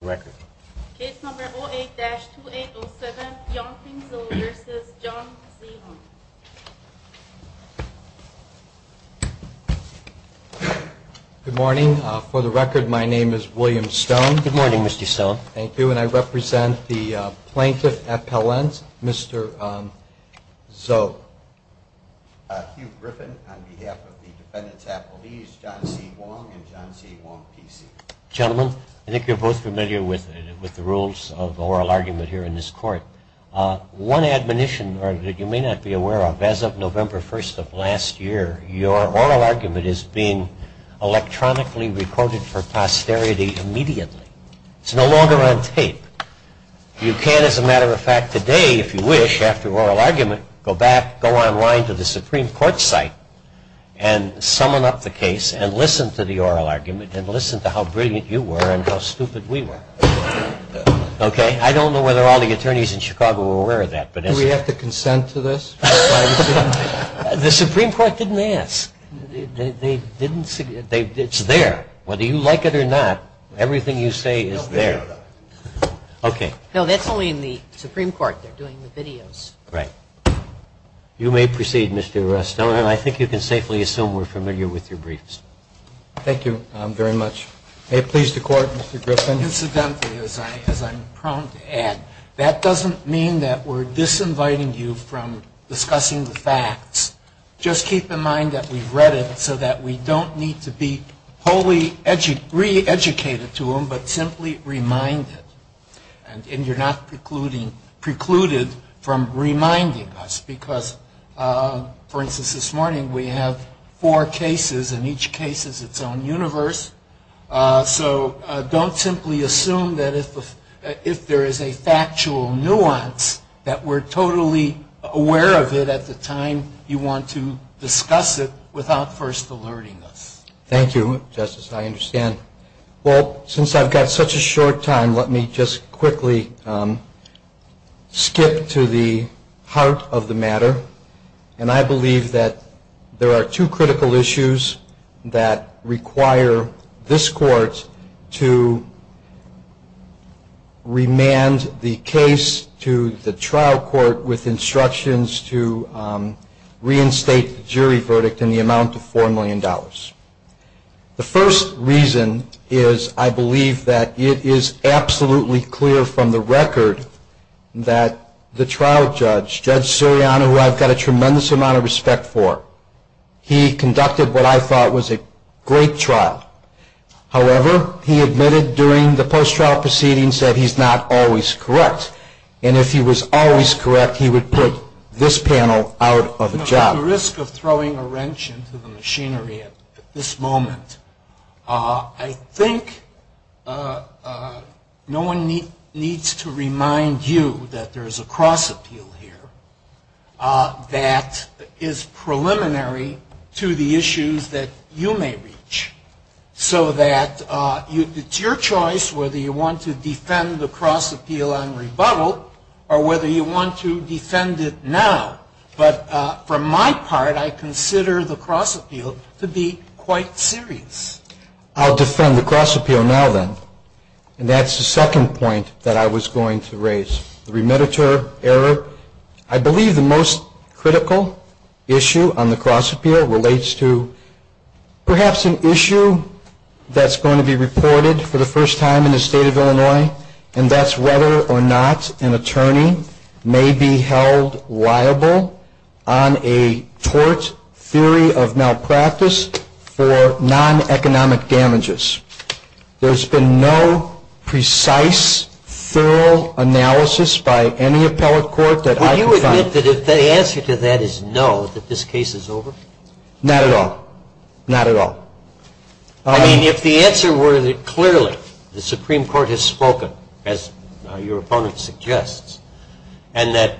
Good morning. For the record, my name is William Stone. Good morning, Mr. Stone. Thank you. And I represent the plaintiff appellant, Mr. So, Hugh Griffin, on behalf of the defendants appellees, John C. Wong and John C. Wong, PC. Gentlemen, I think you're both familiar with the rules of the oral argument here in this court. One admonition that you may not be aware of, as of November 1st of last year, your oral argument is being electronically recorded for posterity immediately. It's no longer on tape. You can, as a matter of fact, today, if you wish, add this to your oral argument. After oral argument, go back, go online to the Supreme Court site and summon up the case and listen to the oral argument and listen to how brilliant you were and how stupid we were. Okay? I don't know whether all the attorneys in Chicago are aware of that. Do we have to consent to this? The Supreme Court didn't ask. It's there. Whether you like it or not, everything you say is there. Okay. No, that's only in the Supreme Court. They're doing the videos. Right. You may proceed, Mr. Stone. I think you can safely assume we're familiar with your briefs. Thank you very much. May it please the Court, Mr. Griffin. Incidentally, as I'm prone to add, that doesn't mean that we're disinviting you from discussing the facts. Just keep in mind that we've read it so that we don't need to be wholly re-educated to them, but simply remind them. And you're not precluded from reminding us because, for instance, this morning we have four cases and each case is its own universe. So don't simply assume that if there is a factual nuance that we're totally aware of it at the time you want to discuss it without first alerting us. Thank you, Justice. I understand. Well, since I've got such a short time, let me just quickly skip to the heart of the matter. And I believe that there are two critical issues that require this Court to remand the case to the trial court with instructions to reinstate the jury verdict in the amount of $4 million. The first reason is I believe that it is absolutely clear from the record that the trial judge, Judge Suriano, who I've got a tremendous amount of respect for, he conducted what I thought was a great trial. However, he admitted during the post-trial proceedings that he's not always correct. And if he was always correct, he would put this panel out of a job. I'm at risk of throwing a wrench into the machinery at this moment. I think no one needs to remind you that there is a cross-appeal here that is preliminary to the issues that you may reach so that it's your choice whether you want to defend the cross-appeal on rebuttal or whether you want to defend it now. But from my part, I consider the cross-appeal to be quite serious. I'll defend the cross-appeal now, then. And that's the second point that I was going to raise. The remitter error. I believe the most critical issue on the cross-appeal relates to perhaps an issue that's going to be reported for the first time in the State of Illinois. And that's whether or not an attorney may be held liable on a tort theory of malpractice for non-economic damages. There's been no precise, thorough analysis by any appellate court that I can find. Would you admit that if the answer to that is no, that this case is over? Not at all. Not at all. I mean, if the answer were that clearly the Supreme Court has spoken, as your opponent suggests, and that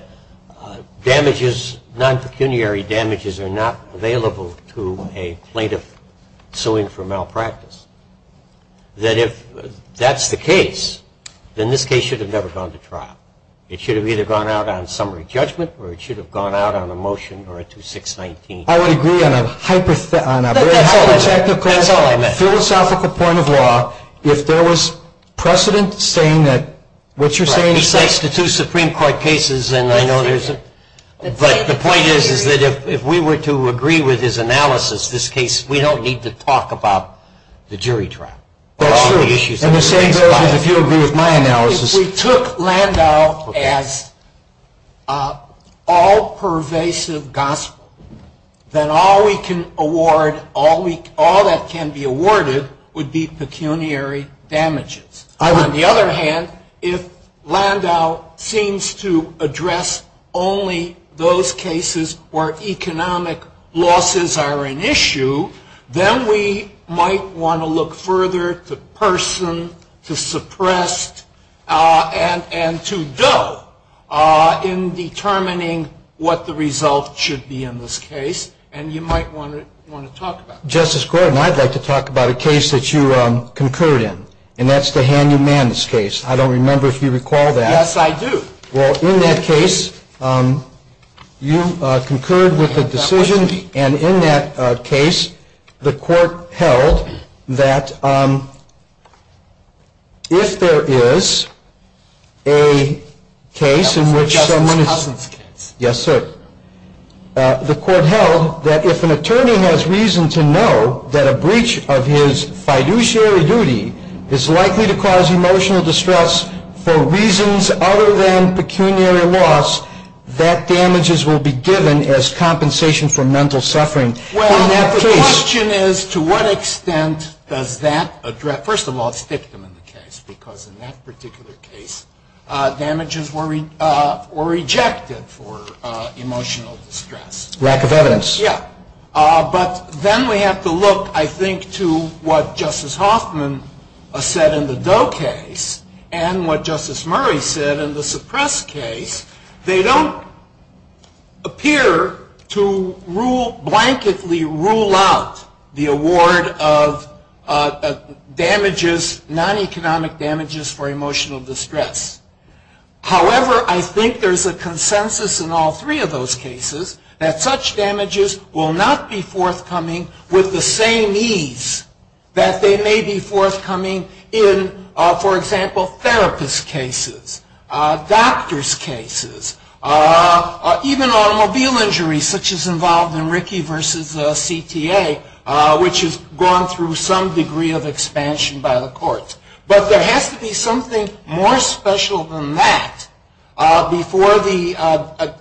damages, non-pecuniary damages are not available to a plaintiff suing for malpractice, that if that's the case, then this case should have never gone to trial. It should have either gone out on summary judgment or it should have gone out on a motion or a 2619. I would agree on a hypothetical philosophical point of law if there was precedent saying that what you're saying is right. Besides the two Supreme Court cases, and I know there's a – but the point is that if we were to agree with his analysis, this case, we don't need to talk about the jury trial. That's true. And the same goes if you agree with my analysis. If we took Landau as all pervasive gospel, then all we can award, all that can be awarded would be pecuniary damages. On the other hand, if Landau seems to address only those cases where economic losses are an issue, then we might want to look further to Person, to Suppressed, and to Doe in determining what the result should be in this case. And you might want to talk about that. Justice Gordon, I'd like to talk about a case that you concurred in, and that's the Hanyu Mannis case. I don't remember if you recall that. Yes, I do. Well, in that case, you concurred with the decision. And in that case, the court held that if there is a case in which someone is – Justice Cousen's case. Yes, sir. The court held that if an attorney has reason to know that a breach of his fiduciary duty is likely to cause emotional distress for reasons other than pecuniary loss, that damages will be given as compensation for mental suffering in that case. Well, the question is to what extent does that address – first of all, it's victim in the case, because in that particular case, damages were rejected for emotional distress. Lack of evidence. Yes. But then we have to look, I think, to what Justice Hoffman said in the Doe case and what Justice Murray said in the Suppressed case. They don't appear to blanketly rule out the award of damages, non-economic damages, for emotional distress. However, I think there's a consensus in all three of those cases that such damages will not be forthcoming with the same ease that they may be forthcoming in, for example, therapist cases, doctor's cases, even automobile injuries such as involved in Ricky v. CTA, which has gone through some degree of expansion by the courts. But there has to be something more special than that before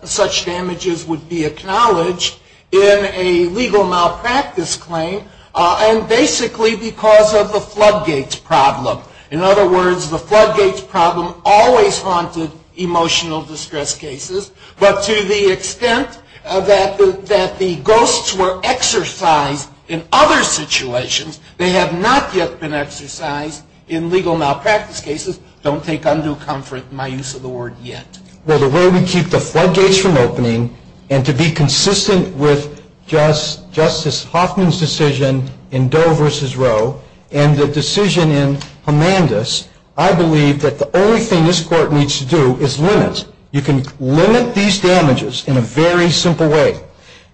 such damages would be acknowledged in a legal malpractice claim, and basically because of the floodgates problem. In other words, the floodgates problem always haunted emotional distress cases, but to the extent that the ghosts were exercised in other situations, they have not yet been exercised in legal malpractice cases. Don't take undue comfort in my use of the word yet. Well, the way we keep the floodgates from opening and to be consistent with Justice Hoffman's decision in Doe v. Roe and the decision in Homandis, I believe that the only thing this court needs to do is limit. You can limit these damages in a very simple way.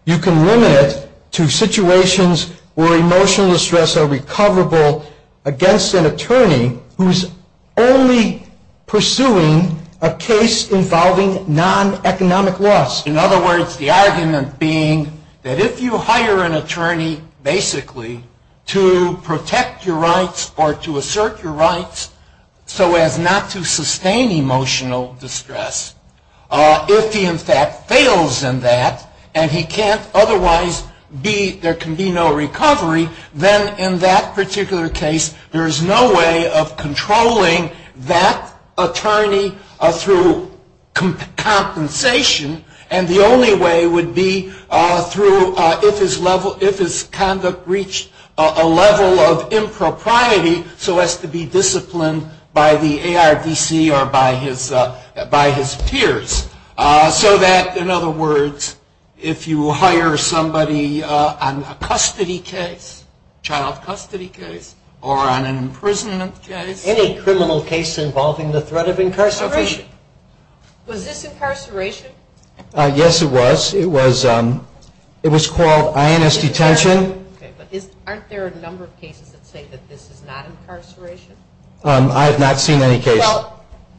You can limit it to situations where emotional distress are recoverable against an attorney who is only pursuing a case involving non-economic loss. In other words, the argument being that if you hire an attorney basically to protect your rights or to assert your rights so as not to sustain emotional distress, if he in fact fails in that and he can't otherwise be, there can be no recovery, then in that particular case there is no way of controlling that attorney through compensation and the only way would be through if his conduct reached a level of impropriety so as to be disciplined by the ARDC or by his peers. So that, in other words, if you hire somebody on a custody case, child custody case, or on an imprisonment case. Any criminal case involving the threat of incarceration. Was this incarceration? Yes, it was. It was called INS detention. Okay, but aren't there a number of cases that say that this is not incarceration? I have not seen any case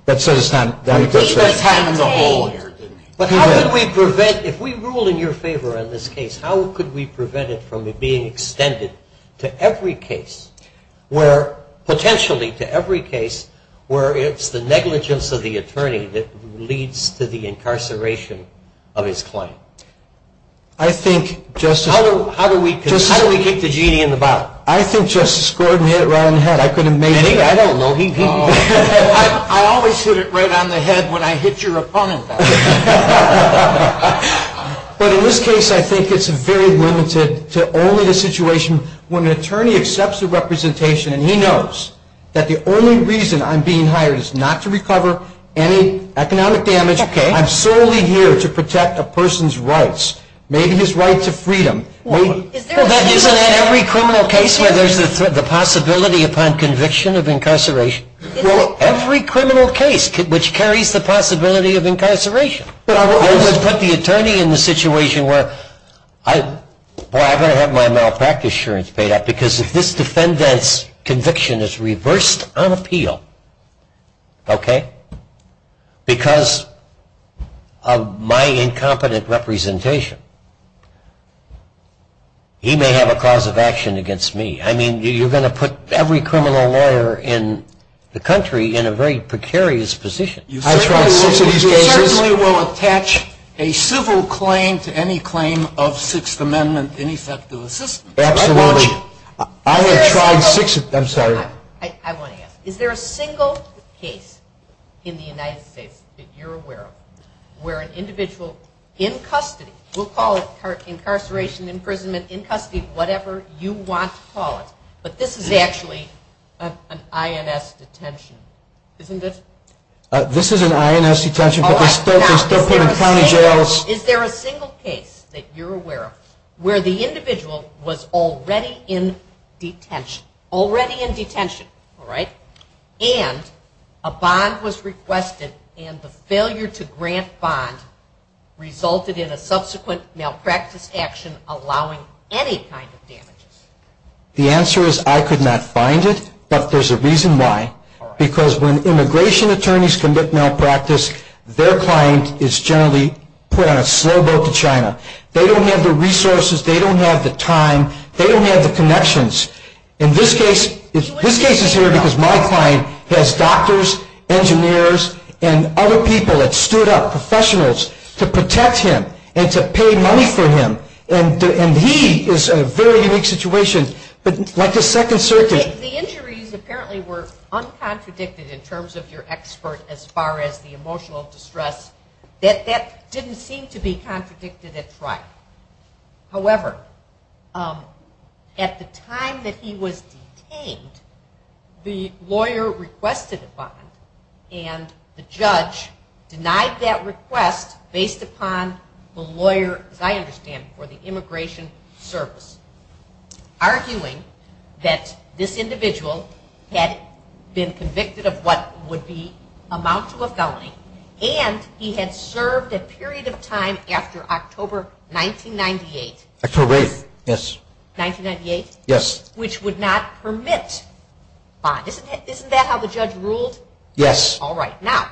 that says it's not incarceration. But how could we prevent, if we rule in your favor on this case, how could we prevent it from being extended to every case where potentially to every case where it's the negligence of the attorney that leads to the incarceration of his client? I think, Justice. How do we keep the genie in the bottle? I think Justice Gordon hit it right on the head. I don't know. I always hit it right on the head when I hit your opponent. But in this case, I think it's very limited to only the situation when an attorney accepts the representation and he knows that the only reason I'm being hired is not to recover any economic damage. I'm solely here to protect a person's rights, maybe his right to freedom. Isn't that every criminal case where there's the possibility upon conviction of incarceration? Every criminal case which carries the possibility of incarceration. I would put the attorney in the situation where I'm going to have my malpractice insurance paid out because if this defendant's conviction is reversed on appeal, okay, because of my incompetent representation, he may have a cause of action against me. I mean, you're going to put every criminal lawyer in the country in a very precarious position. You certainly will attach a civil claim to any claim of Sixth Amendment ineffective assistance. Absolutely. I have tried six of them. I'm sorry. I want to ask. Is there a single case in the United States that you're aware of where an individual in custody, we'll call it incarceration, imprisonment, in custody, whatever you want to call it, but this is actually an INS detention, isn't it? This is an INS detention, but they're still put in county jails. Is there a single case that you're aware of where the individual was already in detention, already in detention, all right, and a bond was requested and the failure to grant bond resulted in a subsequent malpractice action allowing any kind of damages? The answer is I could not find it, but there's a reason why. Because when immigration attorneys commit malpractice, their client is generally put on a slow boat to China. They don't have the resources. They don't have the time. They don't have the connections. In this case, this case is here because my client has doctors, engineers, and other people that stood up, professionals, to protect him and to pay money for him, and he is in a very unique situation. But like the Second Circuit. The injuries apparently were uncontradicted in terms of your expert as far as the emotional distress. That didn't seem to be contradicted at trial. However, at the time that he was detained, the lawyer requested a bond, and the judge denied that request based upon the lawyer, as I understand, for the immigration service, arguing that this individual had been convicted of what would be amount to a felony, and he had served a period of time after October 1998. October 8th, yes. 1998? Yes. Which would not permit bond. Isn't that how the judge ruled? Yes. All right. Now,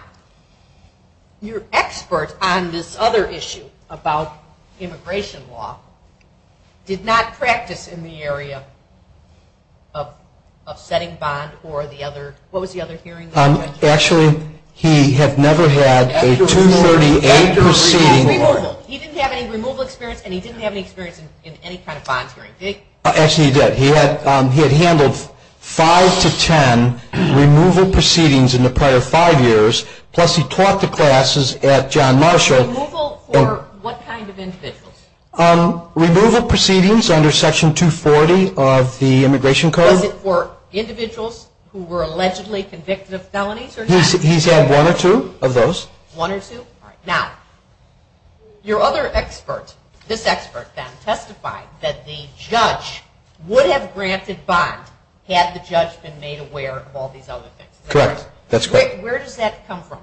your expert on this other issue about immigration law did not practice in the area of setting bond or the other. What was the other hearing? Actually, he had never had a 238 proceeding. He didn't have any removal experience, and he didn't have any experience in any kind of bond hearing. Actually, he did. He had handled five to ten removal proceedings in the prior five years, plus he taught the classes at John Marshall. Removal for what kind of individuals? Removal proceedings under Section 240 of the Immigration Code. Was it for individuals who were allegedly convicted of felonies or not? He's had one or two of those. One or two? All right. Now, your other expert, this expert, then, testified that the judge would have granted bond had the judge been made aware of all these other things. Correct. That's correct. Where does that come from?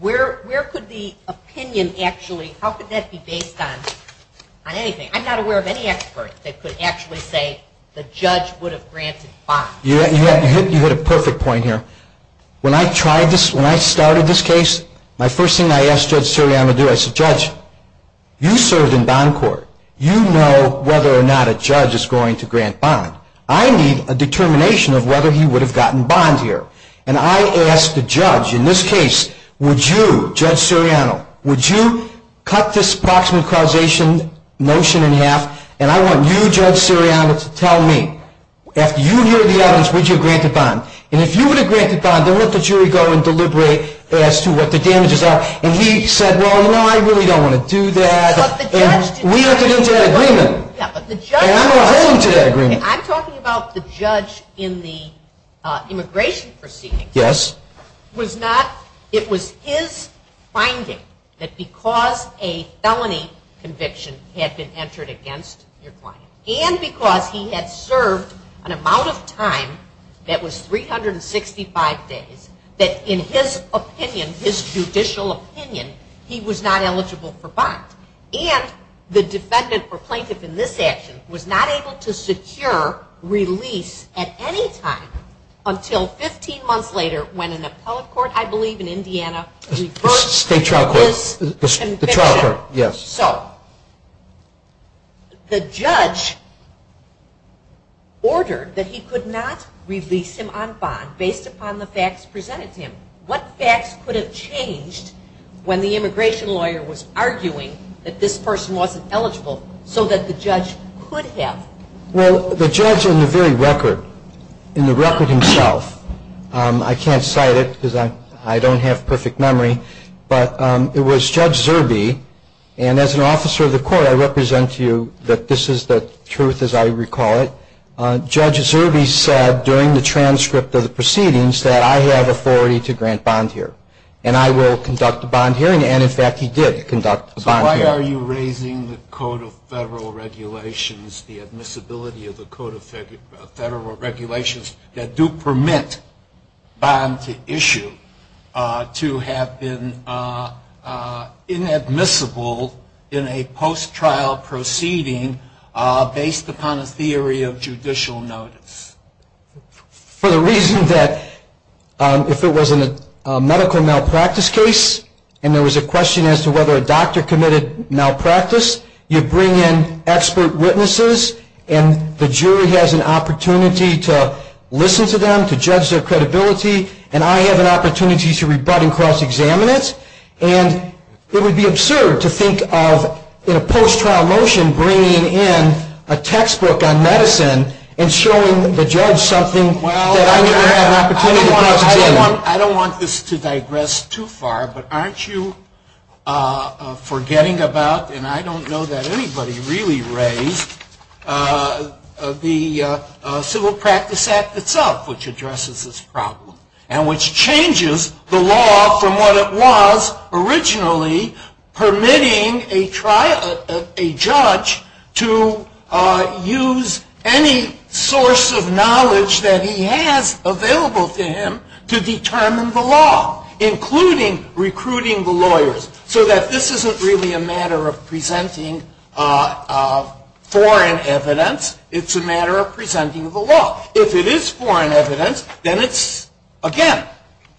Where could the opinion actually, how could that be based on anything? I'm not aware of any expert that could actually say the judge would have granted bond. You hit a perfect point here. When I started this case, my first thing I asked Judge Siriano to do, I said, Judge, you served in bond court. You know whether or not a judge is going to grant bond. I need a determination of whether he would have gotten bond here. And I asked the judge, in this case, would you, Judge Siriano, would you cut this proximate causation notion in half? And I want you, Judge Siriano, to tell me. After you hear the evidence, would you have granted bond? And if you would have granted bond, then let the jury go and deliberate as to what the damages are. And he said, well, no, I really don't want to do that. And we have to get to that agreement. And I'm going to hold you to that agreement. I'm talking about the judge in the immigration proceedings. Yes. It was his finding that because a felony conviction had been entered against your client and because he had served an amount of time that was 365 days, that in his opinion, his judicial opinion, he was not eligible for bond. And the defendant or plaintiff in this action was not able to secure release at any time until 15 months later when an appellate court, I believe in Indiana, reversed his conviction. State trial court. The trial court, yes. So the judge ordered that he could not release him on bond based upon the facts presented to him. What facts could have changed when the immigration lawyer was arguing that this person wasn't eligible so that the judge could have? Well, the judge in the very record, in the record himself, I can't cite it because I don't have perfect memory, but it was Judge Zerbe. And as an officer of the court, I represent to you that this is the truth as I recall it. Judge Zerbe said during the transcript of the proceedings that I have authority to grant bond here and I will conduct a bond hearing. So why are you raising the Code of Federal Regulations, the admissibility of the Code of Federal Regulations that do permit bond to issue to have been inadmissible in a post-trial proceeding based upon a theory of judicial notice? For the reason that if it was a medical malpractice case and there was a question as to whether a doctor committed malpractice, you bring in expert witnesses and the jury has an opportunity to listen to them, to judge their credibility, and I have an opportunity to rebut and cross-examine it. And it would be absurd to think of in a post-trial motion bringing in a textbook on medicine and showing the judge something that I never had an opportunity to cross-examine. I don't want this to digress too far, but aren't you forgetting about, and I don't know that anybody really raised, the Civil Practice Act itself, which addresses this problem and which changes the law from what it was originally permitting a judge to use any source of knowledge that he has available to him to determine the law, including recruiting the lawyers, so that this isn't really a matter of presenting foreign evidence. It's a matter of presenting the law. If it is foreign evidence, then it's, again,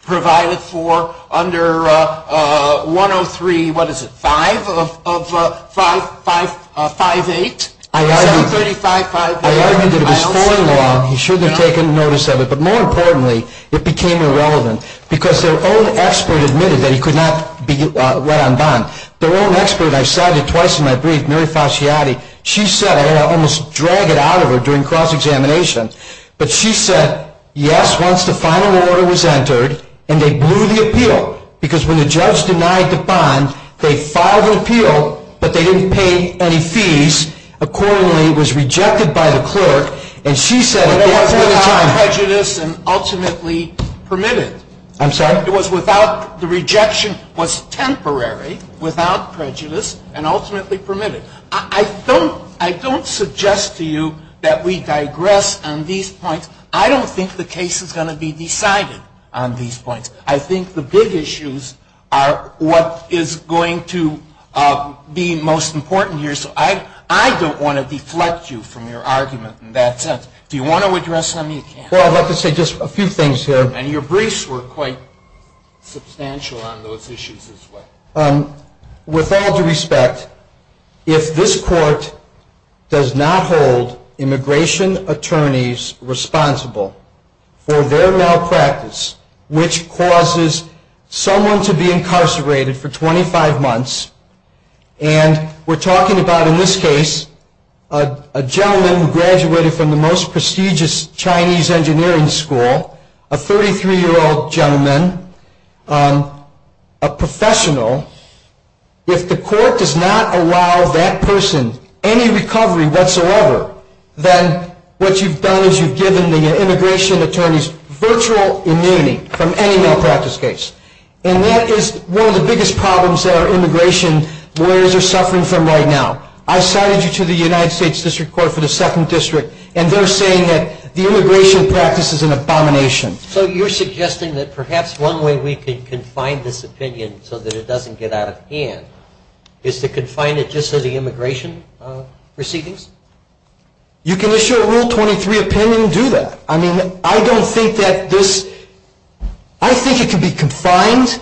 provided for under 103, what is it, 5 of 5.8. I argued that it was foreign law. He shouldn't have taken notice of it, but more importantly, it became irrelevant because their own expert admitted that he could not be let on bond. Their own expert, I cited twice in my brief, Mary Fasciati, she said, and I almost dragged it out of her during cross-examination, but she said, yes, once the final order was entered, and they blew the appeal because when the judge denied the bond, they filed an appeal, but they didn't pay any fees accordingly. It was rejected by the clerk, and she said at that point in time. But it was without prejudice and ultimately permitted. I'm sorry? It was without, the rejection was temporary, without prejudice, and ultimately permitted. I don't suggest to you that we digress on these points. I don't think the case is going to be decided on these points. I think the big issues are what is going to be most important here. So I don't want to deflect you from your argument in that sense. Do you want to address them? You can. Well, I'd like to say just a few things here. And your briefs were quite substantial on those issues as well. With all due respect, if this court does not hold immigration attorneys responsible for their malpractice, which causes someone to be incarcerated for 25 months, and we're talking about in this case a gentleman who graduated from the most prestigious Chinese engineering school, a 33-year-old gentleman, a professional, if the court does not allow that person any recovery whatsoever, then what you've done is you've given the immigration attorneys virtual immunity from any malpractice case. And that is one of the biggest problems that our immigration lawyers are suffering from right now. I cited you to the United States District Court for the Second District, and they're saying that the immigration practice is an abomination. So you're suggesting that perhaps one way we can confine this opinion so that it doesn't get out of hand is to confine it just to the immigration proceedings? You can issue a Rule 23 opinion and do that. I mean, I don't think that this – I think it can be confined.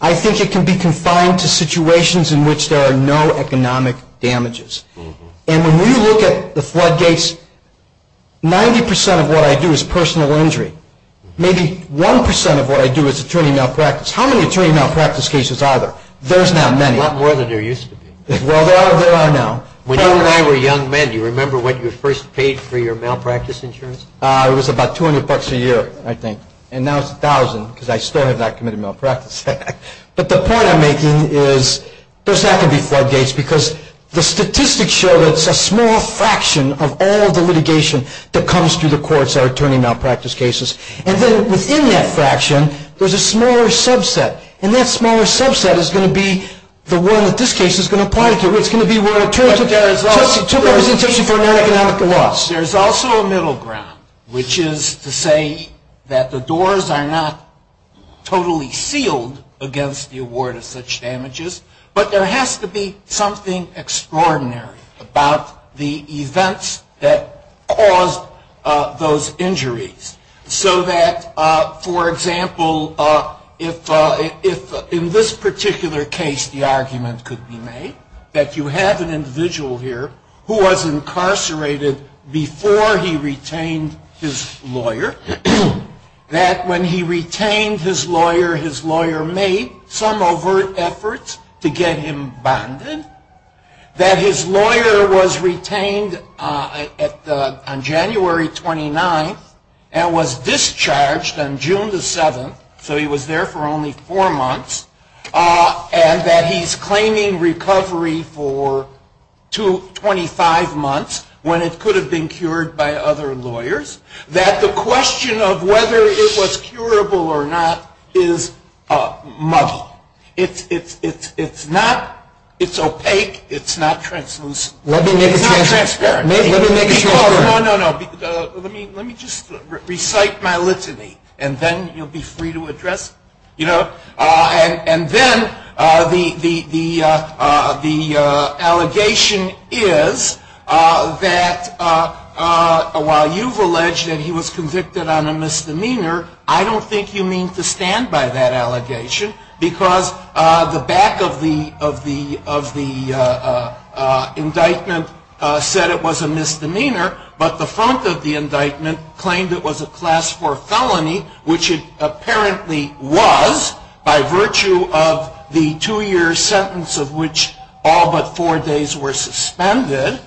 I think it can be confined to situations in which there are no economic damages. And when you look at the floodgates, 90% of what I do is personal injury. Maybe 1% of what I do is attorney malpractice. How many attorney malpractice cases are there? There's now many. A lot more than there used to be. Well, there are now. When you and I were young men, do you remember when you first paid for your malpractice insurance? It was about $200 a year, I think. And now it's $1,000 because I still have not committed a malpractice act. But the point I'm making is there's not going to be floodgates because the statistics show that it's a small fraction of all the litigation that comes through the courts that are attorney malpractice cases. And then within that fraction, there's a smaller subset. And that smaller subset is going to be the one that this case is going to apply to. It's going to be where an attorney took representation for a non-economic loss. There's also a middle ground, which is to say that the doors are not totally sealed against the award of such damages, but there has to be something extraordinary about the events that caused those injuries. So that, for example, if in this particular case the argument could be made that you have an individual here who was incarcerated before he retained his lawyer, that when he retained his lawyer, his lawyer made some overt efforts to get him bonded, that his lawyer was retained on January 29th and was discharged on June the 7th, so he was there for only four months, and that he's claiming recovery for 25 months when it could have been cured by other lawyers, that the question of whether it was curable or not is muggy. It's not opaque. It's not translucent. It's not transparent. Let me make it shorter. No, no, no. Let me just recite my litany, and then you'll be free to address it. And then the allegation is that while you've alleged that he was convicted on a misdemeanor, I don't think you mean to stand by that allegation because the back of the indictment said it was a misdemeanor, but the front of the indictment claimed it was a Class IV felony, which it apparently was by virtue of the two-year sentence of which all but four days were suspended,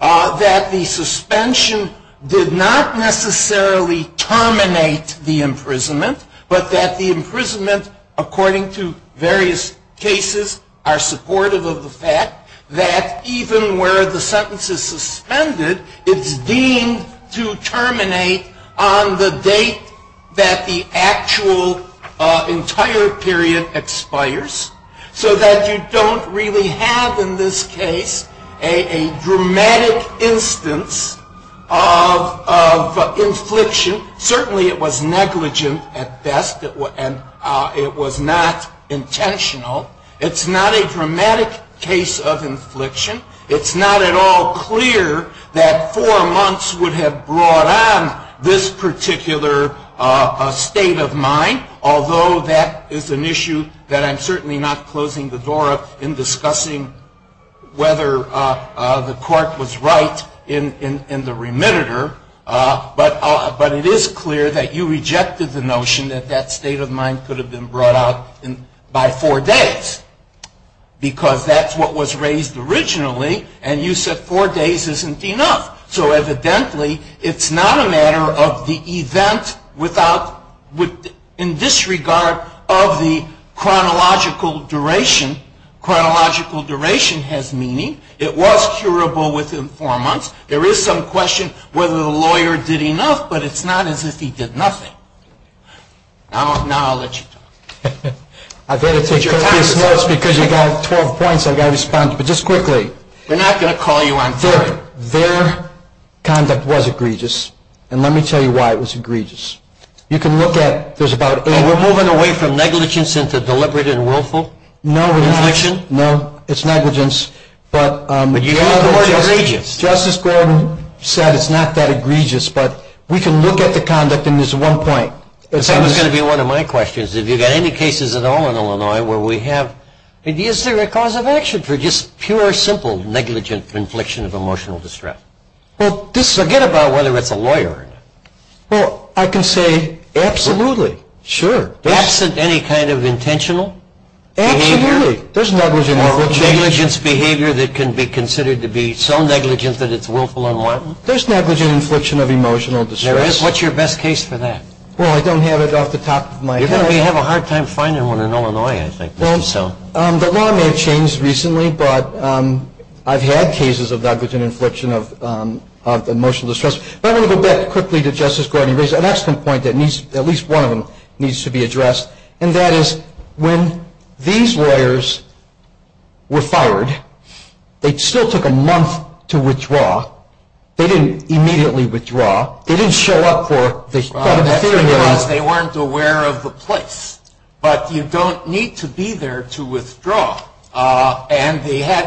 that the suspension did not necessarily terminate the imprisonment, but that the imprisonment, according to various cases, are supportive of the fact that even where the sentence is suspended, it's deemed to terminate on the date that the actual entire period expires, so that you don't really have in this case a dramatic instance of infliction. Certainly it was negligent at best, and it was not intentional. It's not a dramatic case of infliction. It's not at all clear that four months would have brought on this particular state of mind, although that is an issue that I'm certainly not closing the door on in discussing whether the court was right in the remitter, but it is clear that you rejected the notion that that state of mind could have been brought out by four days because that's what was raised originally, and you said four days isn't enough. So evidently, it's not a matter of the event in this regard of the chronological duration. Chronological duration has meaning. It was curable within four months. There is some question whether the lawyer did enough, but it's not as if he did nothing. Now I'll let you talk. I've had to take copious notes because you got 12 points. I've got to respond, but just quickly. We're not going to call you on theory. Their conduct was egregious, and let me tell you why it was egregious. You can look at, there's about eight points. Are we moving away from negligence into deliberate and willful infliction? No, we're not. No, it's negligence. But you call it egregious. Justice Gordon said it's not that egregious, but we can look at the conduct, and there's one point. This is going to be one of my questions. If you've got any cases at all in Illinois where we have, is there a cause of action for just pure, simple, negligent infliction of emotional distress? Well, just forget about whether it's a lawyer or not. Well, I can say absolutely, sure. Absent any kind of intentional behavior? Absolutely. Negligence behavior that can be considered to be so negligent that it's willful and wanton? There's negligent infliction of emotional distress. What's your best case for that? Well, I don't have it off the top of my head. You're going to have a hard time finding one in Illinois, I think. The law may have changed recently, but I've had cases of negligent infliction of emotional distress. But I want to go back quickly to Justice Gordon. And that is when these lawyers were fired, they still took a month to withdraw. They didn't immediately withdraw. They didn't show up for the hearing. That's because they weren't aware of the place. But you don't need to be there to withdraw. And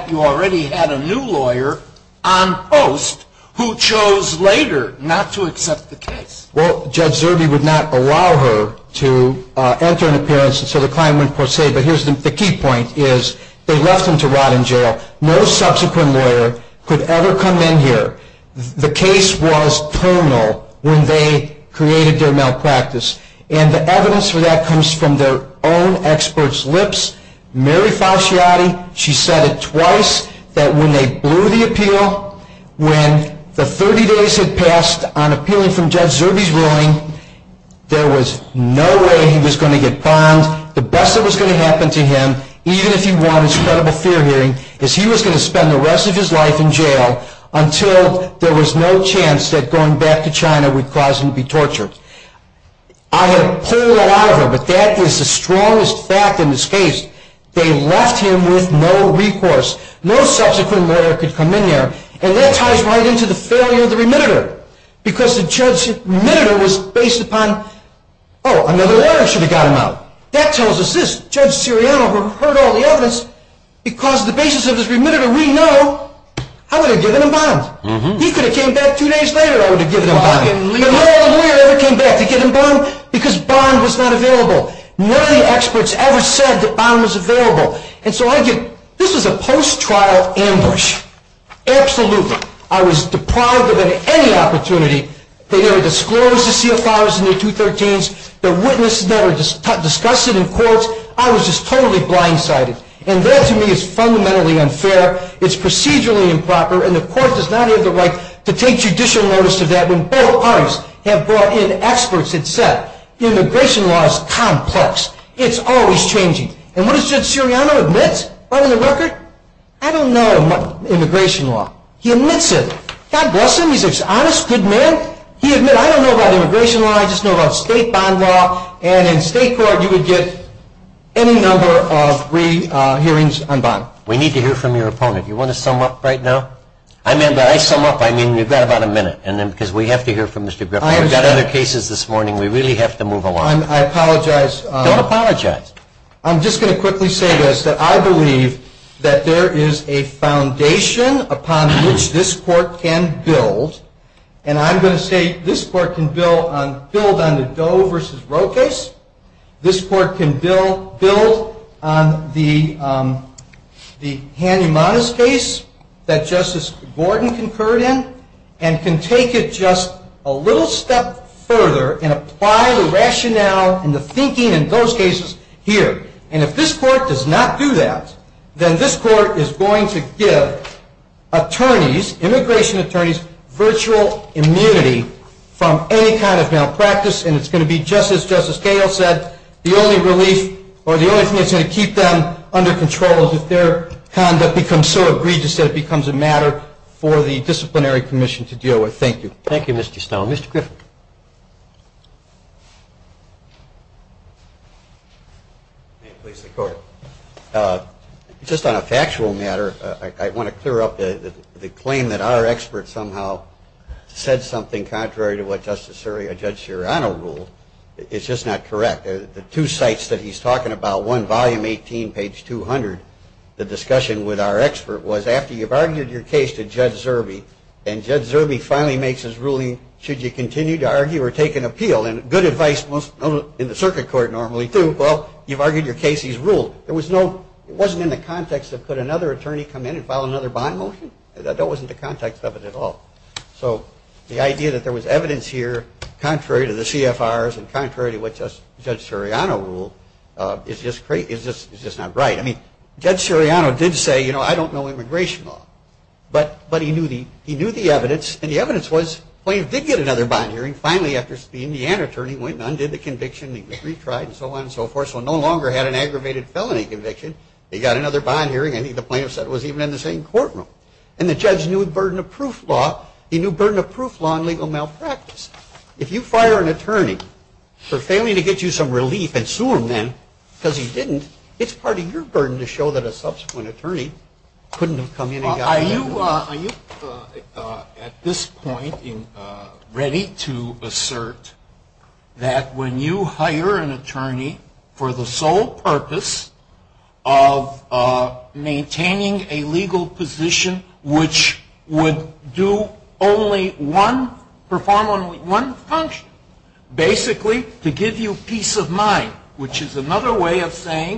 you already had a new lawyer on post who chose later not to accept the case. Well, Judge Zerbe would not allow her to enter an appearance. And so the client went per se. But here's the key point, is they left them to rot in jail. No subsequent lawyer could ever come in here. The case was terminal when they created their malpractice. And the evidence for that comes from their own experts' lips. Mary Fauciati, she said it twice, that when they blew the appeal, when the 30 days had passed on appealing from Judge Zerbe's ruling, there was no way he was going to get primed. The best that was going to happen to him, even if he won his credible fear hearing, is he was going to spend the rest of his life in jail until there was no chance that going back to China would cause him to be tortured. I had pulled a lot of her, but that is the strongest fact in this case. They left him with no recourse. No subsequent lawyer could come in here. And that ties right into the failure of the remitter. Because the judge's remitter was based upon, oh, another lawyer should have got him out. That tells us this. Judge Siriano heard all the evidence because the basis of his remitter, we know, I would have given him bond. He could have came back two days later, I would have given him bond. But no lawyer ever came back to give him bond because bond was not available. None of the experts ever said that bond was available. And so this was a post-trial ambush. Absolutely. I was deprived of any opportunity. They never disclosed the CFRs and the 213s. The witnesses never discussed it in courts. I was just totally blindsided. And that, to me, is fundamentally unfair. It's procedurally improper. And the court does not have the right to take judicial notice of that when both parties have brought in experts that said immigration law is complex. It's always changing. And what does Judge Siriano admit on the record? I don't know immigration law. He admits it. God bless him. He's an honest, good man. He admits, I don't know about immigration law, I just know about state bond law. And in state court you would get any number of free hearings on bond. We need to hear from your opponent. Do you want to sum up right now? I sum up. I mean, we've got about a minute because we have to hear from Mr. Griffin. We've got other cases this morning. We really have to move along. I apologize. Don't apologize. I'm just going to quickly say this, that I believe that there is a foundation upon which this court can build. And I'm going to say this court can build on the Doe v. Roe case. This court can build on the Hanumanas case that Justice Gordon concurred in and can take it just a little step further and apply the rationale and the evidence here. And if this court does not do that, then this court is going to give attorneys, immigration attorneys, virtual immunity from any kind of malpractice. And it's going to be just as Justice Cahill said, the only relief or the only thing that's going to keep them under control is if their conduct becomes so egregious that it becomes a matter for the disciplinary commission to deal with. Thank you. Thank you, Mr. Stone. Mr. Griffin. May it please the court. Just on a factual matter, I want to clear up the claim that our expert somehow said something contrary to what Justice Soria, Judge Serrano ruled. It's just not correct. The two sites that he's talking about, one, volume 18, page 200, the discussion with our expert was after you've argued your case to Judge Zerbe, and Judge Serrano, and you continue to argue or take an appeal, and good advice in the circuit court normally too, well, you've argued your case, he's ruled. It wasn't in the context of could another attorney come in and file another bond motion. That wasn't the context of it at all. So the idea that there was evidence here contrary to the CFRs and contrary to what Judge Serrano ruled is just not right. I mean, Judge Serrano did say, you know, I don't know immigration law. But he knew the evidence. And the evidence was the plaintiff did get another bond hearing finally after the Indiana attorney went and undid the conviction, he retried, and so on and so forth, so no longer had an aggravated felony conviction. He got another bond hearing. I think the plaintiff said it was even in the same courtroom. And the judge knew the burden of proof law. He knew burden of proof law in legal malpractice. If you fire an attorney for failing to get you some relief and sue him then because he didn't, it's part of your burden to show that a subsequent attorney couldn't have come in and gotten that relief. Are you at this point ready to assert that when you hire an attorney for the sole purpose of maintaining a legal position which would do only one, perform only one function, basically to give you peace of mind, which is another way of the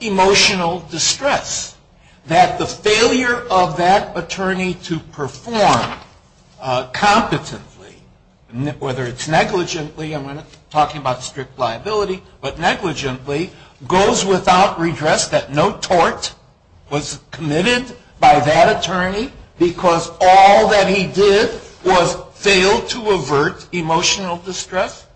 emotional distress? That the failure of that attorney to perform competently, whether it's negligently, I'm talking about strict liability, but negligently, goes without redress, that no tort was committed by that attorney because all that he did was fail to avert emotional distress?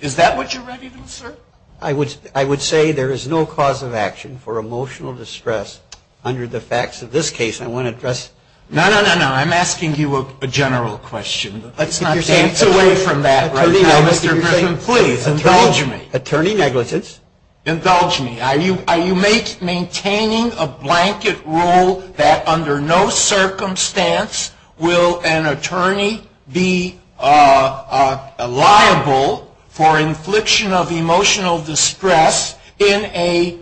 Is that what you're ready to assert? I would say there is no cause of action for emotional distress under the facts of this case. I want to address. No, no, no, no. I'm asking you a general question. Let's not dance away from that right now, Mr. Griffin. Please, indulge me. Attorney negligence. Indulge me. Are you maintaining a blanket rule that under no circumstance will an attorney be liable for infliction of emotional distress in a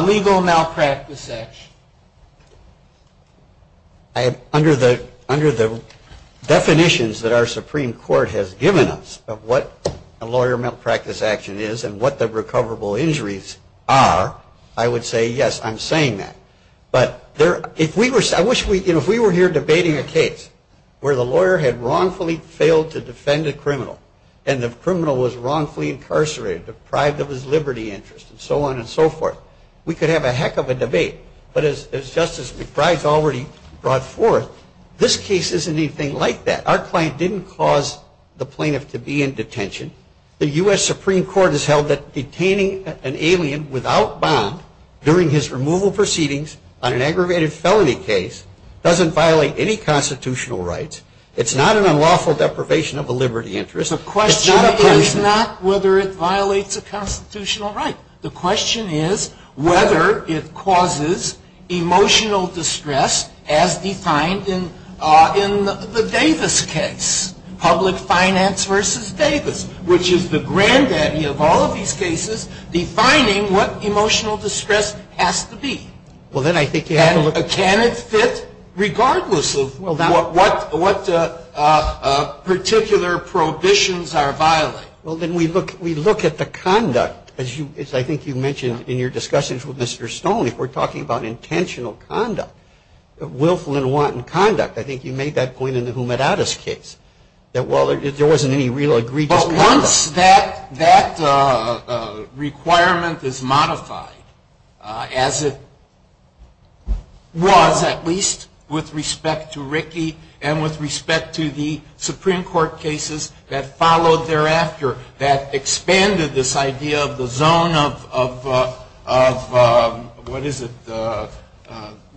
legal malpractice action? Under the definitions that our Supreme Court has given us of what a lawyer malpractice action is and what the recoverable injuries are, I would say yes, I'm saying that. But if we were here debating a case where the lawyer had wrongfully failed to defend a criminal and the criminal was wrongfully incarcerated, deprived of his liberty interest, and so on and so forth, we could have a heck of a debate. But as Justice McBride's already brought forth, this case isn't anything like that. Our client didn't cause the plaintiff to be in detention. The U.S. Supreme Court has held that detaining an alien without bond during his aggravated felony case doesn't violate any constitutional rights. It's not an unlawful deprivation of a liberty interest. The question is not whether it violates a constitutional right. The question is whether it causes emotional distress as defined in the Davis case, public finance versus Davis, which is the granddaddy of all of these cases defining what emotional distress has to be. Well, then I think you have to look at it. And can it fit regardless of what particular prohibitions are violating? Well, then we look at the conduct. As I think you mentioned in your discussions with Mr. Stone, if we're talking about intentional conduct, willful and wanton conduct, I think you made that point in the Humedatus case, that while there wasn't any real egregious conduct. Once that requirement is modified, as it was at least with respect to Rickey and with respect to the Supreme Court cases that followed thereafter, that expanded this idea of the zone of, what is it?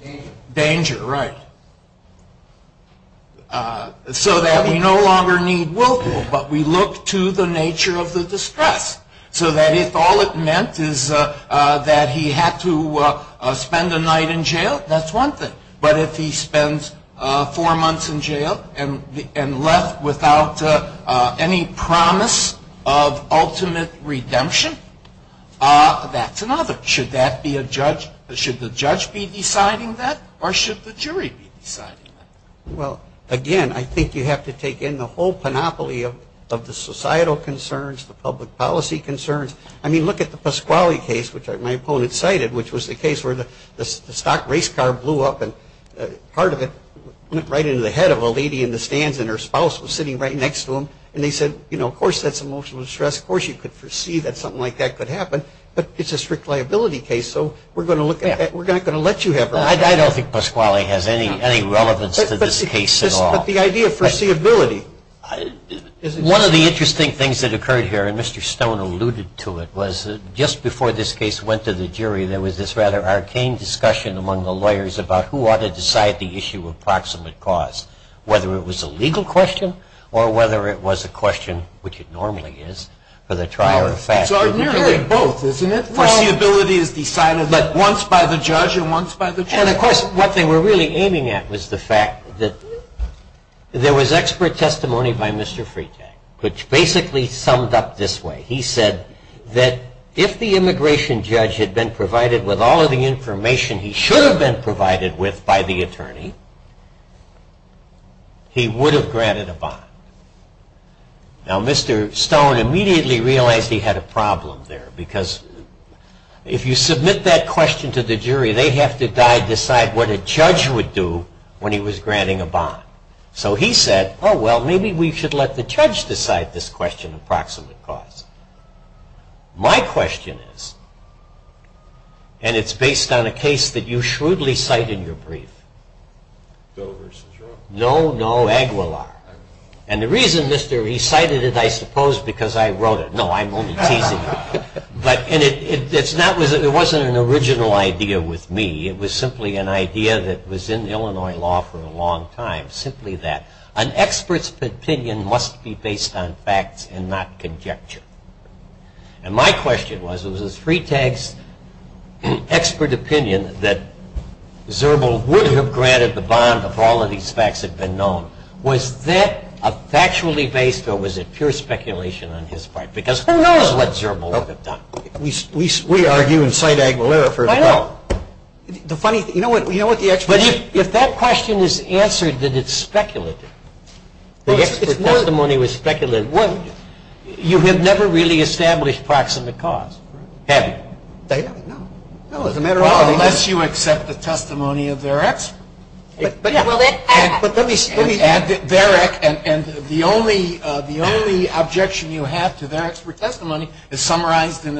Danger. Danger, right. So that we no longer need willful, but we look to the nature of the distress. So that if all it meant is that he had to spend a night in jail, that's one thing. But if he spends four months in jail and left without any promise of ultimate redemption, that's another. But should that be a judge? Should the judge be deciding that? Or should the jury be deciding that? Well, again, I think you have to take in the whole panoply of the societal concerns, the public policy concerns. I mean, look at the Pasquale case, which my opponent cited, which was the case where the stock race car blew up and part of it went right into the head of a lady in the stands and her spouse was sitting right next to him. And they said, you know, of course that's emotional distress. Of course you could foresee that something like that could happen. But it's a strict liability case. So we're going to look at that. We're not going to let you have her. I don't think Pasquale has any relevance to this case at all. But the idea of foreseeability. One of the interesting things that occurred here, and Mr. Stone alluded to it, was just before this case went to the jury, there was this rather arcane discussion among the lawyers about who ought to decide the issue of proximate cause, whether it was a legal question or whether it was a question, which it normally is, for the trial or the fact. It's ordinary in both, isn't it? Foreseeability is decided once by the judge and once by the jury. And, of course, what they were really aiming at was the fact that there was expert testimony by Mr. Freitag, which basically summed up this way. He said that if the immigration judge had been provided with all of the information he should have been provided with by the attorney, he would have granted a bond. Now, Mr. Stone immediately realized he had a problem there, because if you submit that question to the jury, they have to die to decide what a judge would do when he was granting a bond. So he said, oh, well, maybe we should let the judge decide this question of proximate cause. My question is, and it's based on a case that you shrewdly cite in your brief. Doe versus Roe. No, no, Aguilar. And the reason, Mr., he cited it, I suppose, because I wrote it. No, I'm only teasing you. But it wasn't an original idea with me. It was simply an idea that was in Illinois law for a long time, simply that. An expert's opinion must be based on facts and not conjecture. And my question was, was it Freitag's expert opinion that Zerbel would have granted the bond if all of these facts had been known? Was that factually based, or was it pure speculation on his part? Because who knows what Zerbel would have done. We argue and cite Aguilar for the bond. I know. The funny thing, you know what the expert opinion is? If that question is answered that it's speculative, the expert testimony was speculative, you have never really established proximate cause, have you? No. Well, unless you accept the testimony of their expert. But let me add, and the only objection you have to their expert testimony is summarized in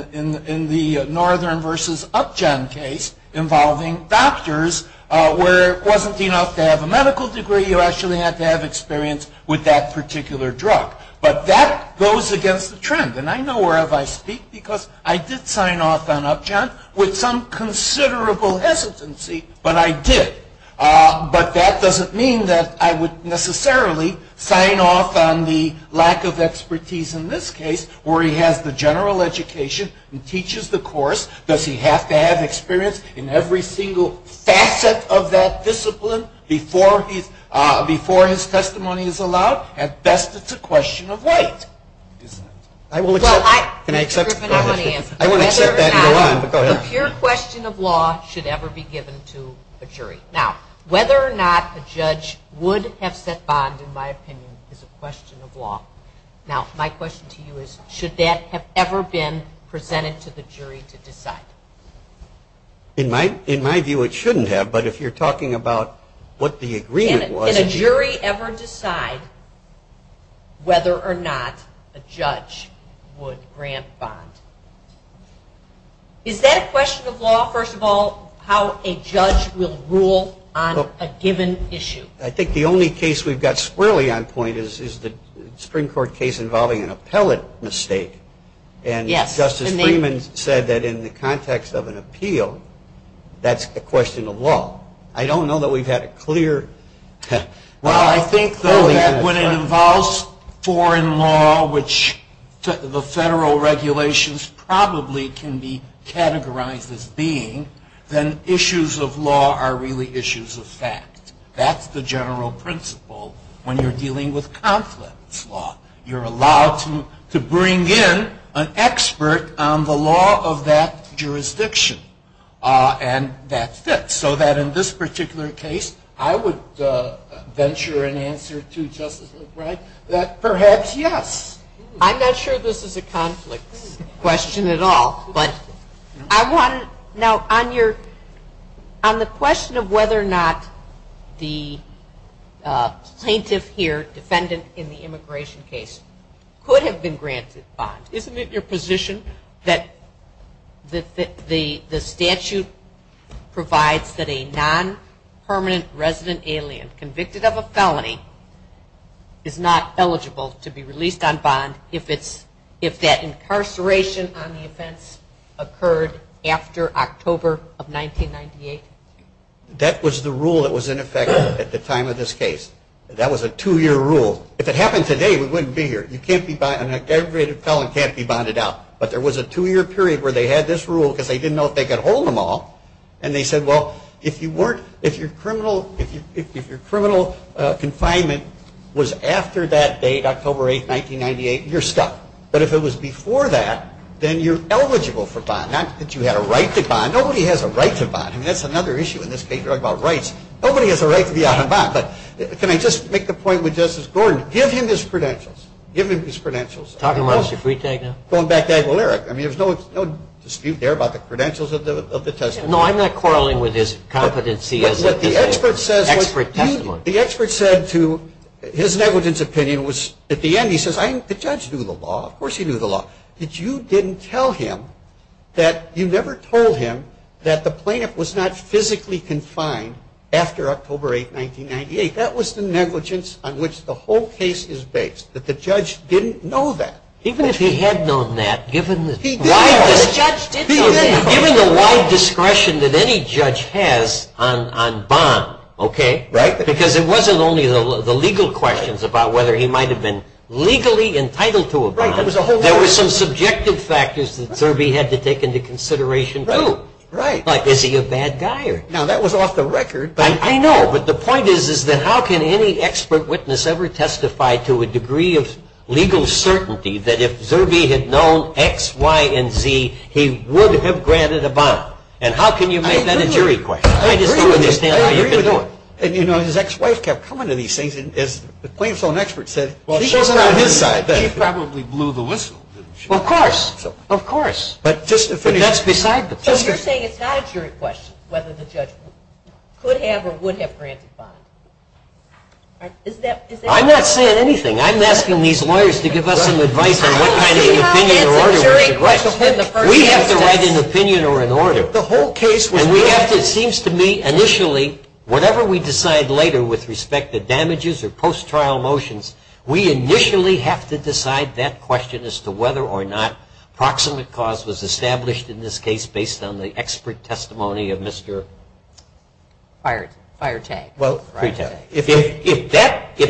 the Northern versus Upjohn case involving doctors where it wasn't enough to have a medical degree, you actually had to have experience with that particular drug. But that goes against the trend. And I know wherever I speak because I did sign off on Upjohn with some considerable hesitancy, but I did. But that doesn't mean that I would necessarily sign off on the lack of expertise in this case where he has the general education and teaches the course. Does he have to have experience in every single facet of that discipline before his testimony is allowed? At best, it's a question of weight. I will accept. Can I accept? I won't accept that and go on, but go ahead. A pure question of law should ever be given to a jury. Now, whether or not a judge would have set bond, in my opinion, is a question of law. Now, my question to you is, should that have ever been presented to the jury to decide? In my view, it shouldn't have. But if you're talking about what the agreement was. Can a jury ever decide whether or not a judge would grant bond? Is that a question of law, first of all, how a judge will rule on a given issue? I think the only case we've got squarely on point is the Supreme Court case involving an appellate mistake. And Justice Freeman said that in the context of an appeal, that's a question of law. I don't know that we've had it clear. Well, I think, though, that when it involves foreign law, which the federal regulations probably can be categorized as being, then issues of law are really issues of fact. That's the general principle when you're dealing with conflicts law. You're allowed to bring in an expert on the law of that jurisdiction and that fits. So that in this particular case, I would venture an answer to Justice McBride that perhaps, yes. I'm not sure this is a conflict question at all. But I want to know, on the question of whether or not the plaintiff here, defendant in the immigration case, could have been granted bond, isn't it a position that the statute provides that a non-permanent resident alien convicted of a felony is not eligible to be released on bond if that incarceration on the offense occurred after October of 1998? That was the rule that was in effect at the time of this case. That was a two-year rule. If it happened today, we wouldn't be here. You can't be, an aggravated felony can't be bonded out. But there was a two-year period where they had this rule because they didn't know if they could hold them all. And they said, well, if your criminal confinement was after that date, October 8, 1998, you're stuck. But if it was before that, then you're eligible for bond. Not that you had a right to bond. Nobody has a right to bond. I mean, that's another issue in this case. You're talking about rights. Nobody has a right to be out on bond. But can I just make the point with Justice Gordon? Give him his credentials. Give him his credentials. Going back to Aguilera, I mean, there's no dispute there about the credentials of the testimony. No, I'm not quarreling with his competency as an expert testimony. The expert said to his negligence opinion was at the end, he says, I think the judge knew the law. Of course he knew the law. But you didn't tell him that you never told him that the plaintiff was not physically confined after October 8, 1998. See, that was the negligence on which the whole case is based, that the judge didn't know that. Even if he had known that, given the wide discretion that any judge has on bond, okay? Right. Because it wasn't only the legal questions about whether he might have been legally entitled to a bond. There were some subjective factors that Zerbe had to take into consideration, too. Right. Like is he a bad guy? Now, that was off the record. I know. But the point is, is that how can any expert witness ever testify to a degree of legal certainty that if Zerbe had known X, Y, and Z, he would have granted a bond? And how can you make that a jury question? I agree with you. I agree with you. And, you know, his ex-wife kept coming to these things. And as the plaintiff's own expert said, she probably blew the whistle. Of course. Of course. But that's beside the point. So you're saying it's not a jury question whether the judge could have or would have granted bond? I'm not saying anything. I'm asking these lawyers to give us some advice on what kind of opinion or order we should write. We have to write an opinion or an order. And we have to, it seems to me, initially, whatever we decide later with respect to damages or post-trial motions, we initially have to decide that question as to whether or not proximate cause was established in this case based on the expert testimony of Mr. Fired. Fired tag. If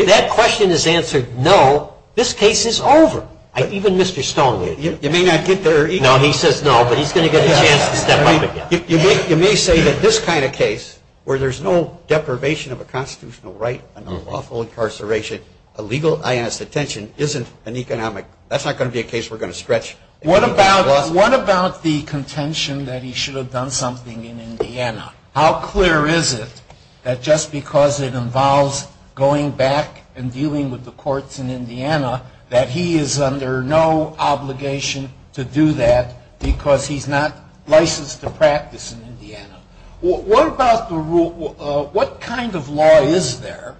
that question is answered no, this case is over. Even Mr. Stone would. You may not get there. No, he says no, but he's going to get a chance to step up again. You may say that this kind of case where there's no deprivation of a constitutional right and no lawful incarceration, a legal, honest detention isn't an economic, that's not going to be a case we're going to stretch. What about the contention that he should have done something in Indiana? How clear is it that just because it involves going back and dealing with the courts in Indiana that he is under no obligation to do that because he's not licensed to practice in Indiana? What kind of law is there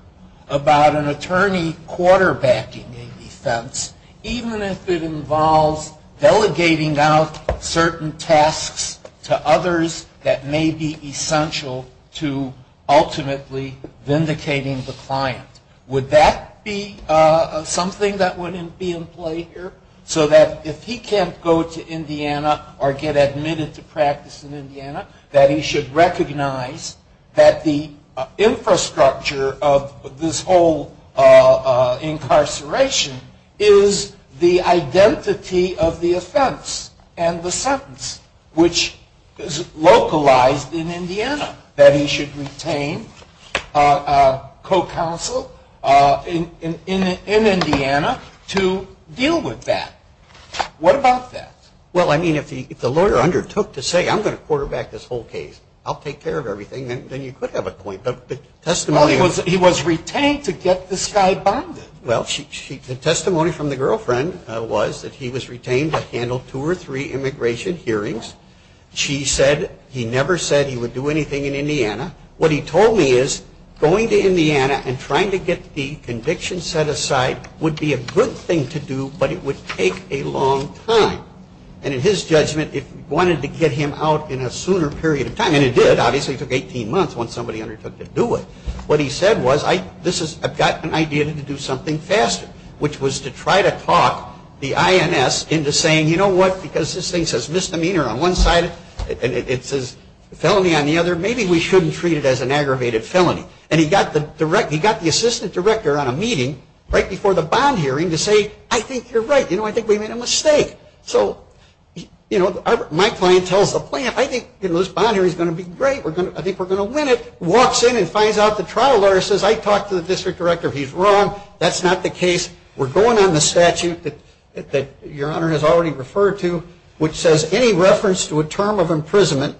about an attorney quarterbacking a defense even if it involves delegating out certain tasks to others that may be essential to ultimately vindicating the client? Would that be something that would be in play here so that if he can't go to court, he should recognize that the infrastructure of this whole incarceration is the identity of the offense and the sentence, which is localized in Indiana, that he should retain co-counsel in Indiana to deal with that? What about that? Well, I mean, if the lawyer undertook to say, I'm going to quarterback this whole case. I'll take care of everything, then you could have a point. But the testimony of Well, he was retained to get this guy bonded. Well, the testimony from the girlfriend was that he was retained to handle two or three immigration hearings. She said he never said he would do anything in Indiana. What he told me is going to Indiana and trying to get the conviction set aside would be a good thing to do, but it would take a long time. And in his judgment, it wanted to get him out in a sooner period of time. And it did. Obviously, it took 18 months when somebody undertook to do it. What he said was, I've got an idea to do something faster, which was to try to talk the INS into saying, you know what, because this thing says misdemeanor on one side and it says felony on the other, maybe we shouldn't treat it as an aggravated felony. And he got the assistant director on a meeting right before the bond hearing to say, I think you're right, you know, I think we made a mistake. So my client tells the plan, I think this bond hearing is going to be great, I think we're going to win it, walks in and finds out the trial lawyer says, I talked to the district director, he's wrong, that's not the case, we're going on the statute that your Honor has already referred to, which says any reference to a term of imprisonment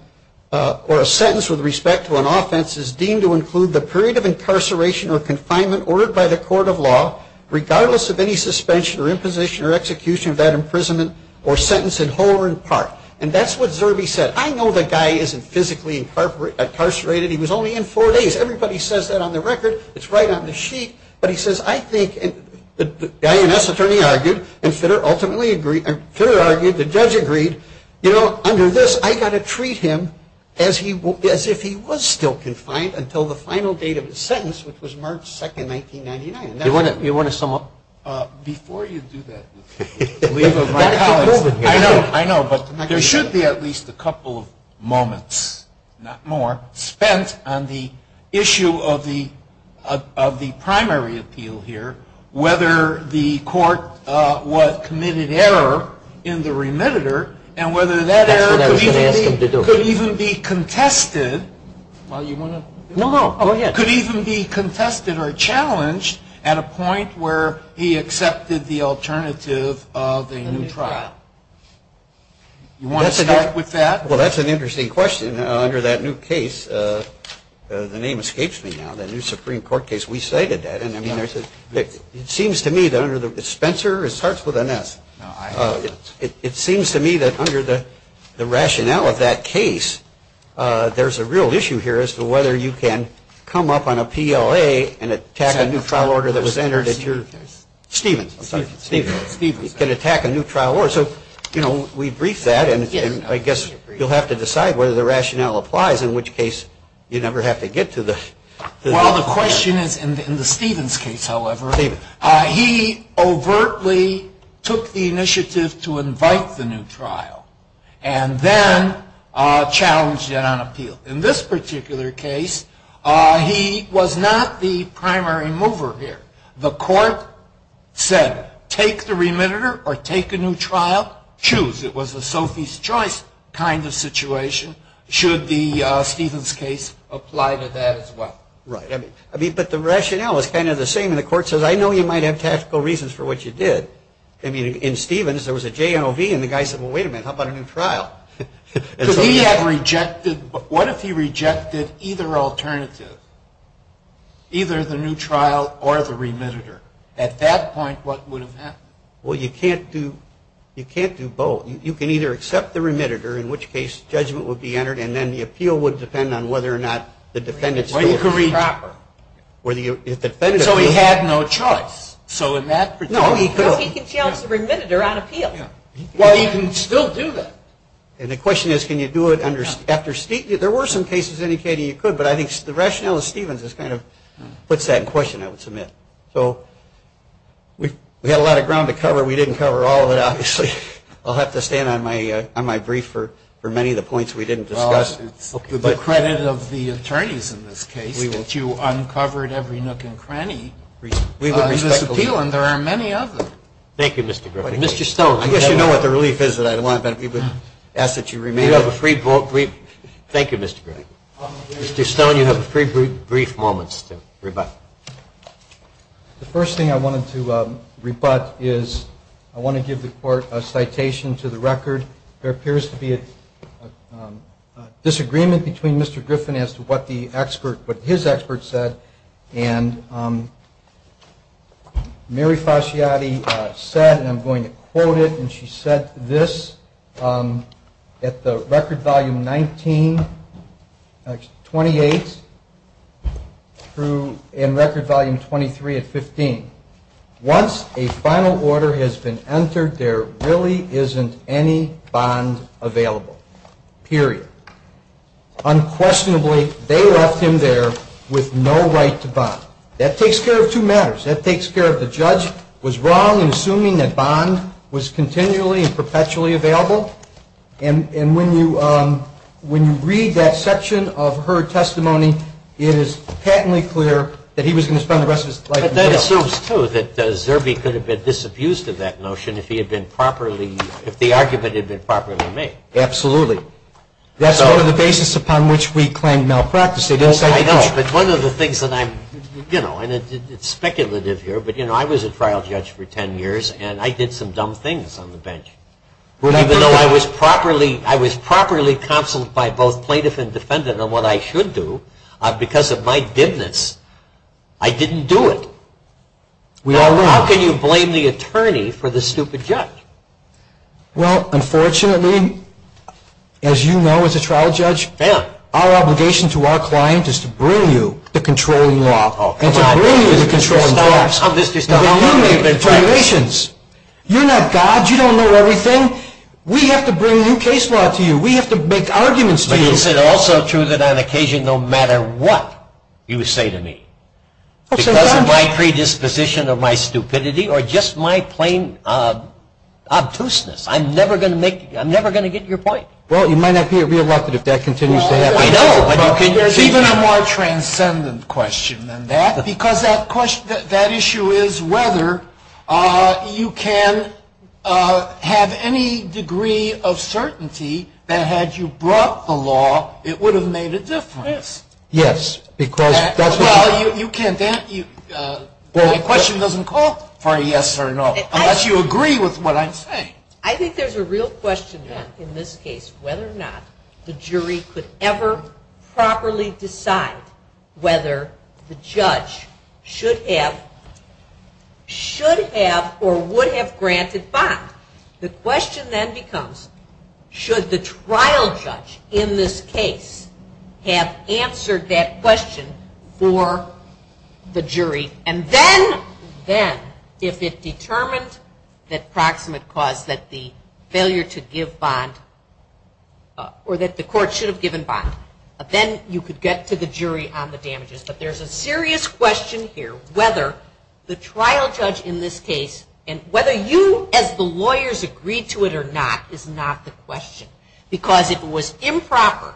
or a sentence with respect to an offense is deemed to include the period of incarceration or confinement ordered by the court of law, regardless of any suspension or imposition or execution of that imprisonment or sentence in whole or in part. And that's what Zerbe said. I know the guy isn't physically incarcerated. He was only in four days. Everybody says that on the record. It's right on the sheet. But he says, I think, and the INS attorney argued, and Fitter ultimately agreed, and Fitter argued, the judge agreed, you know, under this, I've got to treat him as if he was still confined until the final date of his sentence, which was March 2, 1999. You want to sum up? Before you do that, I know, but there should be at least a couple of moments, not more, spent on the issue of the primary appeal here, whether the court committed error in the remitter, and whether that error could even be contested or challenged at a point where he accepted the alternative of a new trial. You want to start with that? Well, that's an interesting question. Under that new case, the name escapes me now, the new Supreme Court case, we cited that. It seems to me that under the Spencer, it starts with an S. It seems to me that under the rationale of that case, there's a real issue here as to whether you can come up on a PLA and attack a new trial order that was entered. Stevens. You can attack a new trial order. So, you know, we briefed that, and I guess you'll have to decide whether the rationale applies, in which case you never have to get to the. Well, the question is, in the Stevens case, however, he overtly took the initiative to invite the new trial and then challenged it on appeal. In this particular case, he was not the primary mover here. The court said, take the remitter or take a new trial, choose. It was a Sophie's Choice kind of situation, should the Stevens case apply to that as well. Right. I mean, but the rationale is kind of the same, and the court says, I know you might have tactical reasons for what you did. I mean, in Stevens, there was a JNOV, and the guy said, well, wait a minute, how about a new trial? Because he had rejected, what if he rejected either alternative, either the new trial or the remitter? At that point, what would have happened? Well, you can't do both. You can either accept the remitter, in which case judgment would be entered, and then the appeal would depend on whether or not the defendant's story was proper. So he had no choice. No, he could have. No, he can challenge the remitter on appeal. Well, he can still do that. And the question is, can you do it after Stevens? There were some cases indicating you could, but I think the rationale in Stevens kind of puts that in question, I would submit. So we had a lot of ground to cover. We didn't cover all of it, obviously. I'll have to stand on my brief for many of the points we didn't discuss. Well, it's the credit of the attorneys in this case that you uncovered every nook and cranny of this appeal, and there are many others. Thank you, Mr. Griffin. Mr. Stone, I guess you know what the relief is that I want, but we would ask that you remain. Thank you, Mr. Griffin. Mr. Stone, you have three brief moments to rebut. The first thing I wanted to rebut is I want to give the Court a citation to the record. There appears to be a disagreement between Mr. Griffin as to what his expert said, and Mary Fasciati said, and I'm going to quote it, and she said this at the record volume 19, 28, and record volume 23 at 15. Once a final order has been entered, there really isn't any bond available, period. Unquestionably, they left him there with no right to bond. That takes care of two matters. That takes care of the judge was wrong in assuming that bond was continually and perpetually available, and when you read that section of her testimony, it is patently clear that he was going to spend the rest of his life in jail. But that assumes, too, that Zerbe could have been disabused of that notion if he had been properly, if the argument had been properly made. Absolutely. That's one of the basis upon which we claim malpractice. I know, but one of the things that I'm, you know, and it's speculative here, but, you know, I was a trial judge for 10 years, and I did some dumb things on the bench. Even though I was properly counseled by both plaintiff and defendant on what I should do, because of my dimness, I didn't do it. How can you blame the attorney for the stupid judge? Well, unfortunately, as you know as a trial judge, our obligation to our client is to bring you the controlling law. Oh, come on. And to bring you the controlling law. Stop. I'm just going to stop. You're not God. You don't know everything. We have to bring new case law to you. We have to make arguments to you. But is it also true that on occasion no matter what you say to me because of my predisposition or my stupidity or just my plain obtuseness, I'm never going to get your point? Well, you might not be re-elected if that continues to happen. I know, but there's even a more transcendent question than that, because that issue is whether you can have any degree of certainty that had you brought the law, it would have made a difference. Yes. Well, the question doesn't call for a yes or no unless you agree with what I'm saying. I think there's a real question then in this case whether or not the jury could ever properly decide whether the judge should have or would have granted bond. The question then becomes should the trial judge in this case have answered that question for the jury, and then if it determined that proximate cause that the court should have given bond, then you could get to the jury on the damages. But there's a serious question here whether the trial judge in this case and whether you as the lawyers agreed to it or not is not the question, because it was improper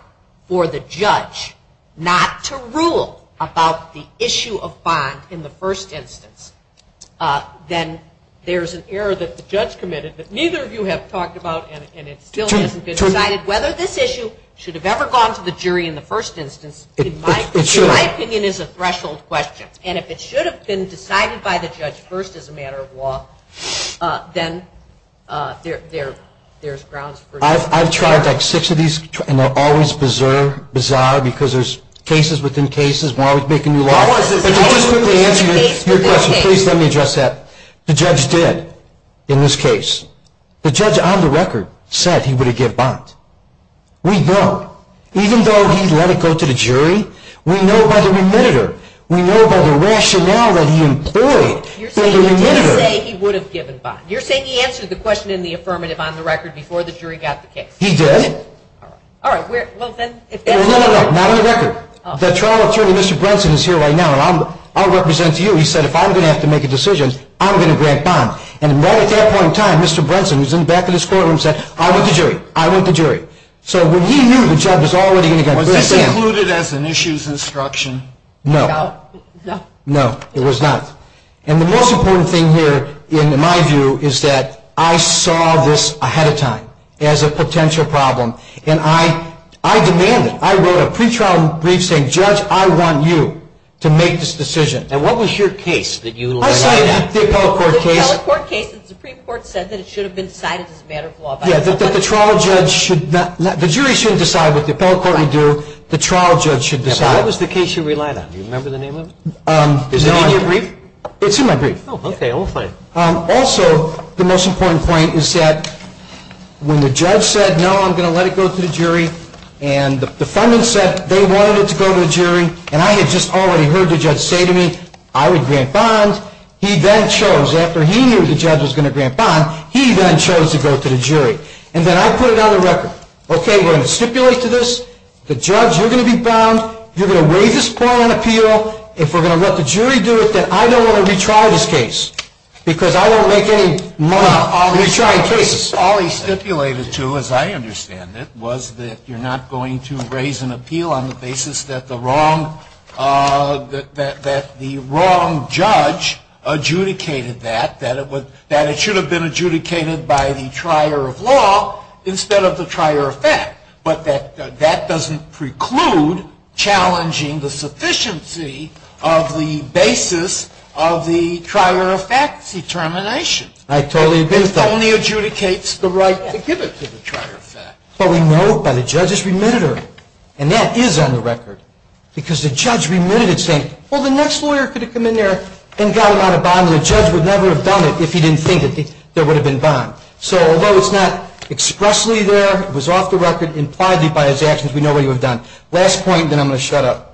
for the judge not to rule about the issue of bond in the first instance. Then there's an error that the judge committed that neither of you have talked about, and it still hasn't been decided whether this issue should have ever gone to the jury in the first instance. In my opinion, it's a threshold question. And if it should have been decided by the judge first as a matter of law, then there's grounds for error. I've tried six of these, and they're always bizarre because there's cases within cases, and we're always making new laws. But just to answer your question, please let me address that. The judge did in this case. The judge on the record said he would have given bond. We know. Even though he let it go to the jury, we know by the remitter. We know by the rationale that he employed. You're saying he did say he would have given bond. You're saying he answered the question in the affirmative on the record before the jury got the case. He did. Well, then, if that's the record. No, no, no. Not on the record. The trial attorney, Mr. Brunson, is here right now, and I'll represent you. He said, if I'm going to have to make a decision, I'm going to grant bond. And right at that point in time, Mr. Brunson, who's in the back of this courtroom, said, I want the jury. I want the jury. So when he knew the judge was already going to go to the jury. Was this included as an issues instruction? No. No. No, it was not. And the most important thing here, in my view, is that I saw this ahead of time as a potential problem. And I demanded, I wrote a pre-trial brief saying, Judge, I want you to make this decision. And what was your case that you laid out? I cited the appellate court case. The appellate court case, the Supreme Court said that it should have been cited as a matter of law. Yeah, that the trial judge should not. The jury shouldn't decide what the appellate court would do. The trial judge should decide. What was the case you relied on? Do you remember the name of it? Is it in your brief? It's in my brief. Oh, okay. Also, the most important point is that when the judge said, no, I'm going to let it go to the jury, and the defendant said they wanted it to go to the jury, and I had just already heard the judge say to me, I would grant bond. He then chose, after he knew the judge was going to grant bond, he then chose to go to the jury. And then I put it on the record. Okay, we're going to stipulate to this. The judge, you're going to be bound. You're going to raise this point on appeal. If we're going to let the jury do it, then I don't want to retry this case because I don't make any money on retrying cases. All he stipulated to, as I understand it, was that you're not going to raise an appeal on the basis that the wrong judge adjudicated that, that it should have been adjudicated by the trier of law instead of the trier of fact, but that that doesn't preclude challenging the sufficiency of the basis of the trier of fact determination. I totally agree with that. It only adjudicates the right to give it to the trier of fact. But we know it by the judge's remitter, and that is on the record, because the judge remitted it saying, well, the next lawyer could have come in there and got it on a bond, and the judge would never have done it if he didn't think that there would have been bond. So although it's not expressly there, it was off the record impliedly by his actions, we know what he would have done. Last point, then I'm going to shut up.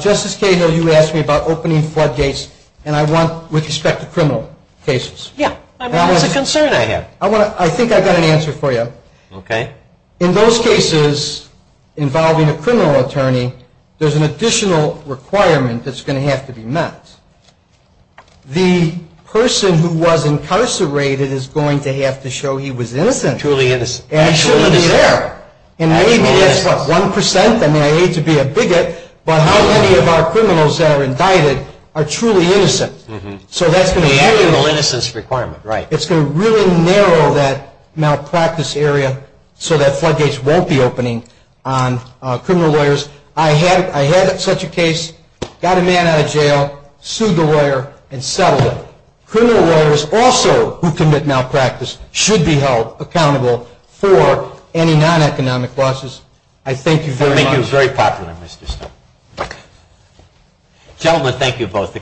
Justice Cahill, you asked me about opening floodgates, and I want, with respect to criminal cases. Yeah. That's a concern I have. I think I've got an answer for you. Okay. In those cases involving a criminal attorney, there's an additional requirement that's going to have to be met. The person who was incarcerated is going to have to show he was innocent. Truly innocent. And he shouldn't be there. And maybe that's what, 1%? I mean, I hate to be a bigot, but how many of our criminals that are indicted are truly innocent? So that's going to be. The actual innocence requirement. Right. It's going to really narrow that malpractice area so that floodgates won't be opening on criminal lawyers. I had such a case, got a man out of jail, sued the lawyer, and settled it. Criminal lawyers also who commit malpractice should be held accountable for any non-economic losses. I thank you very much. Thank you. Very popular, Mr. Stone. Gentlemen, thank you both.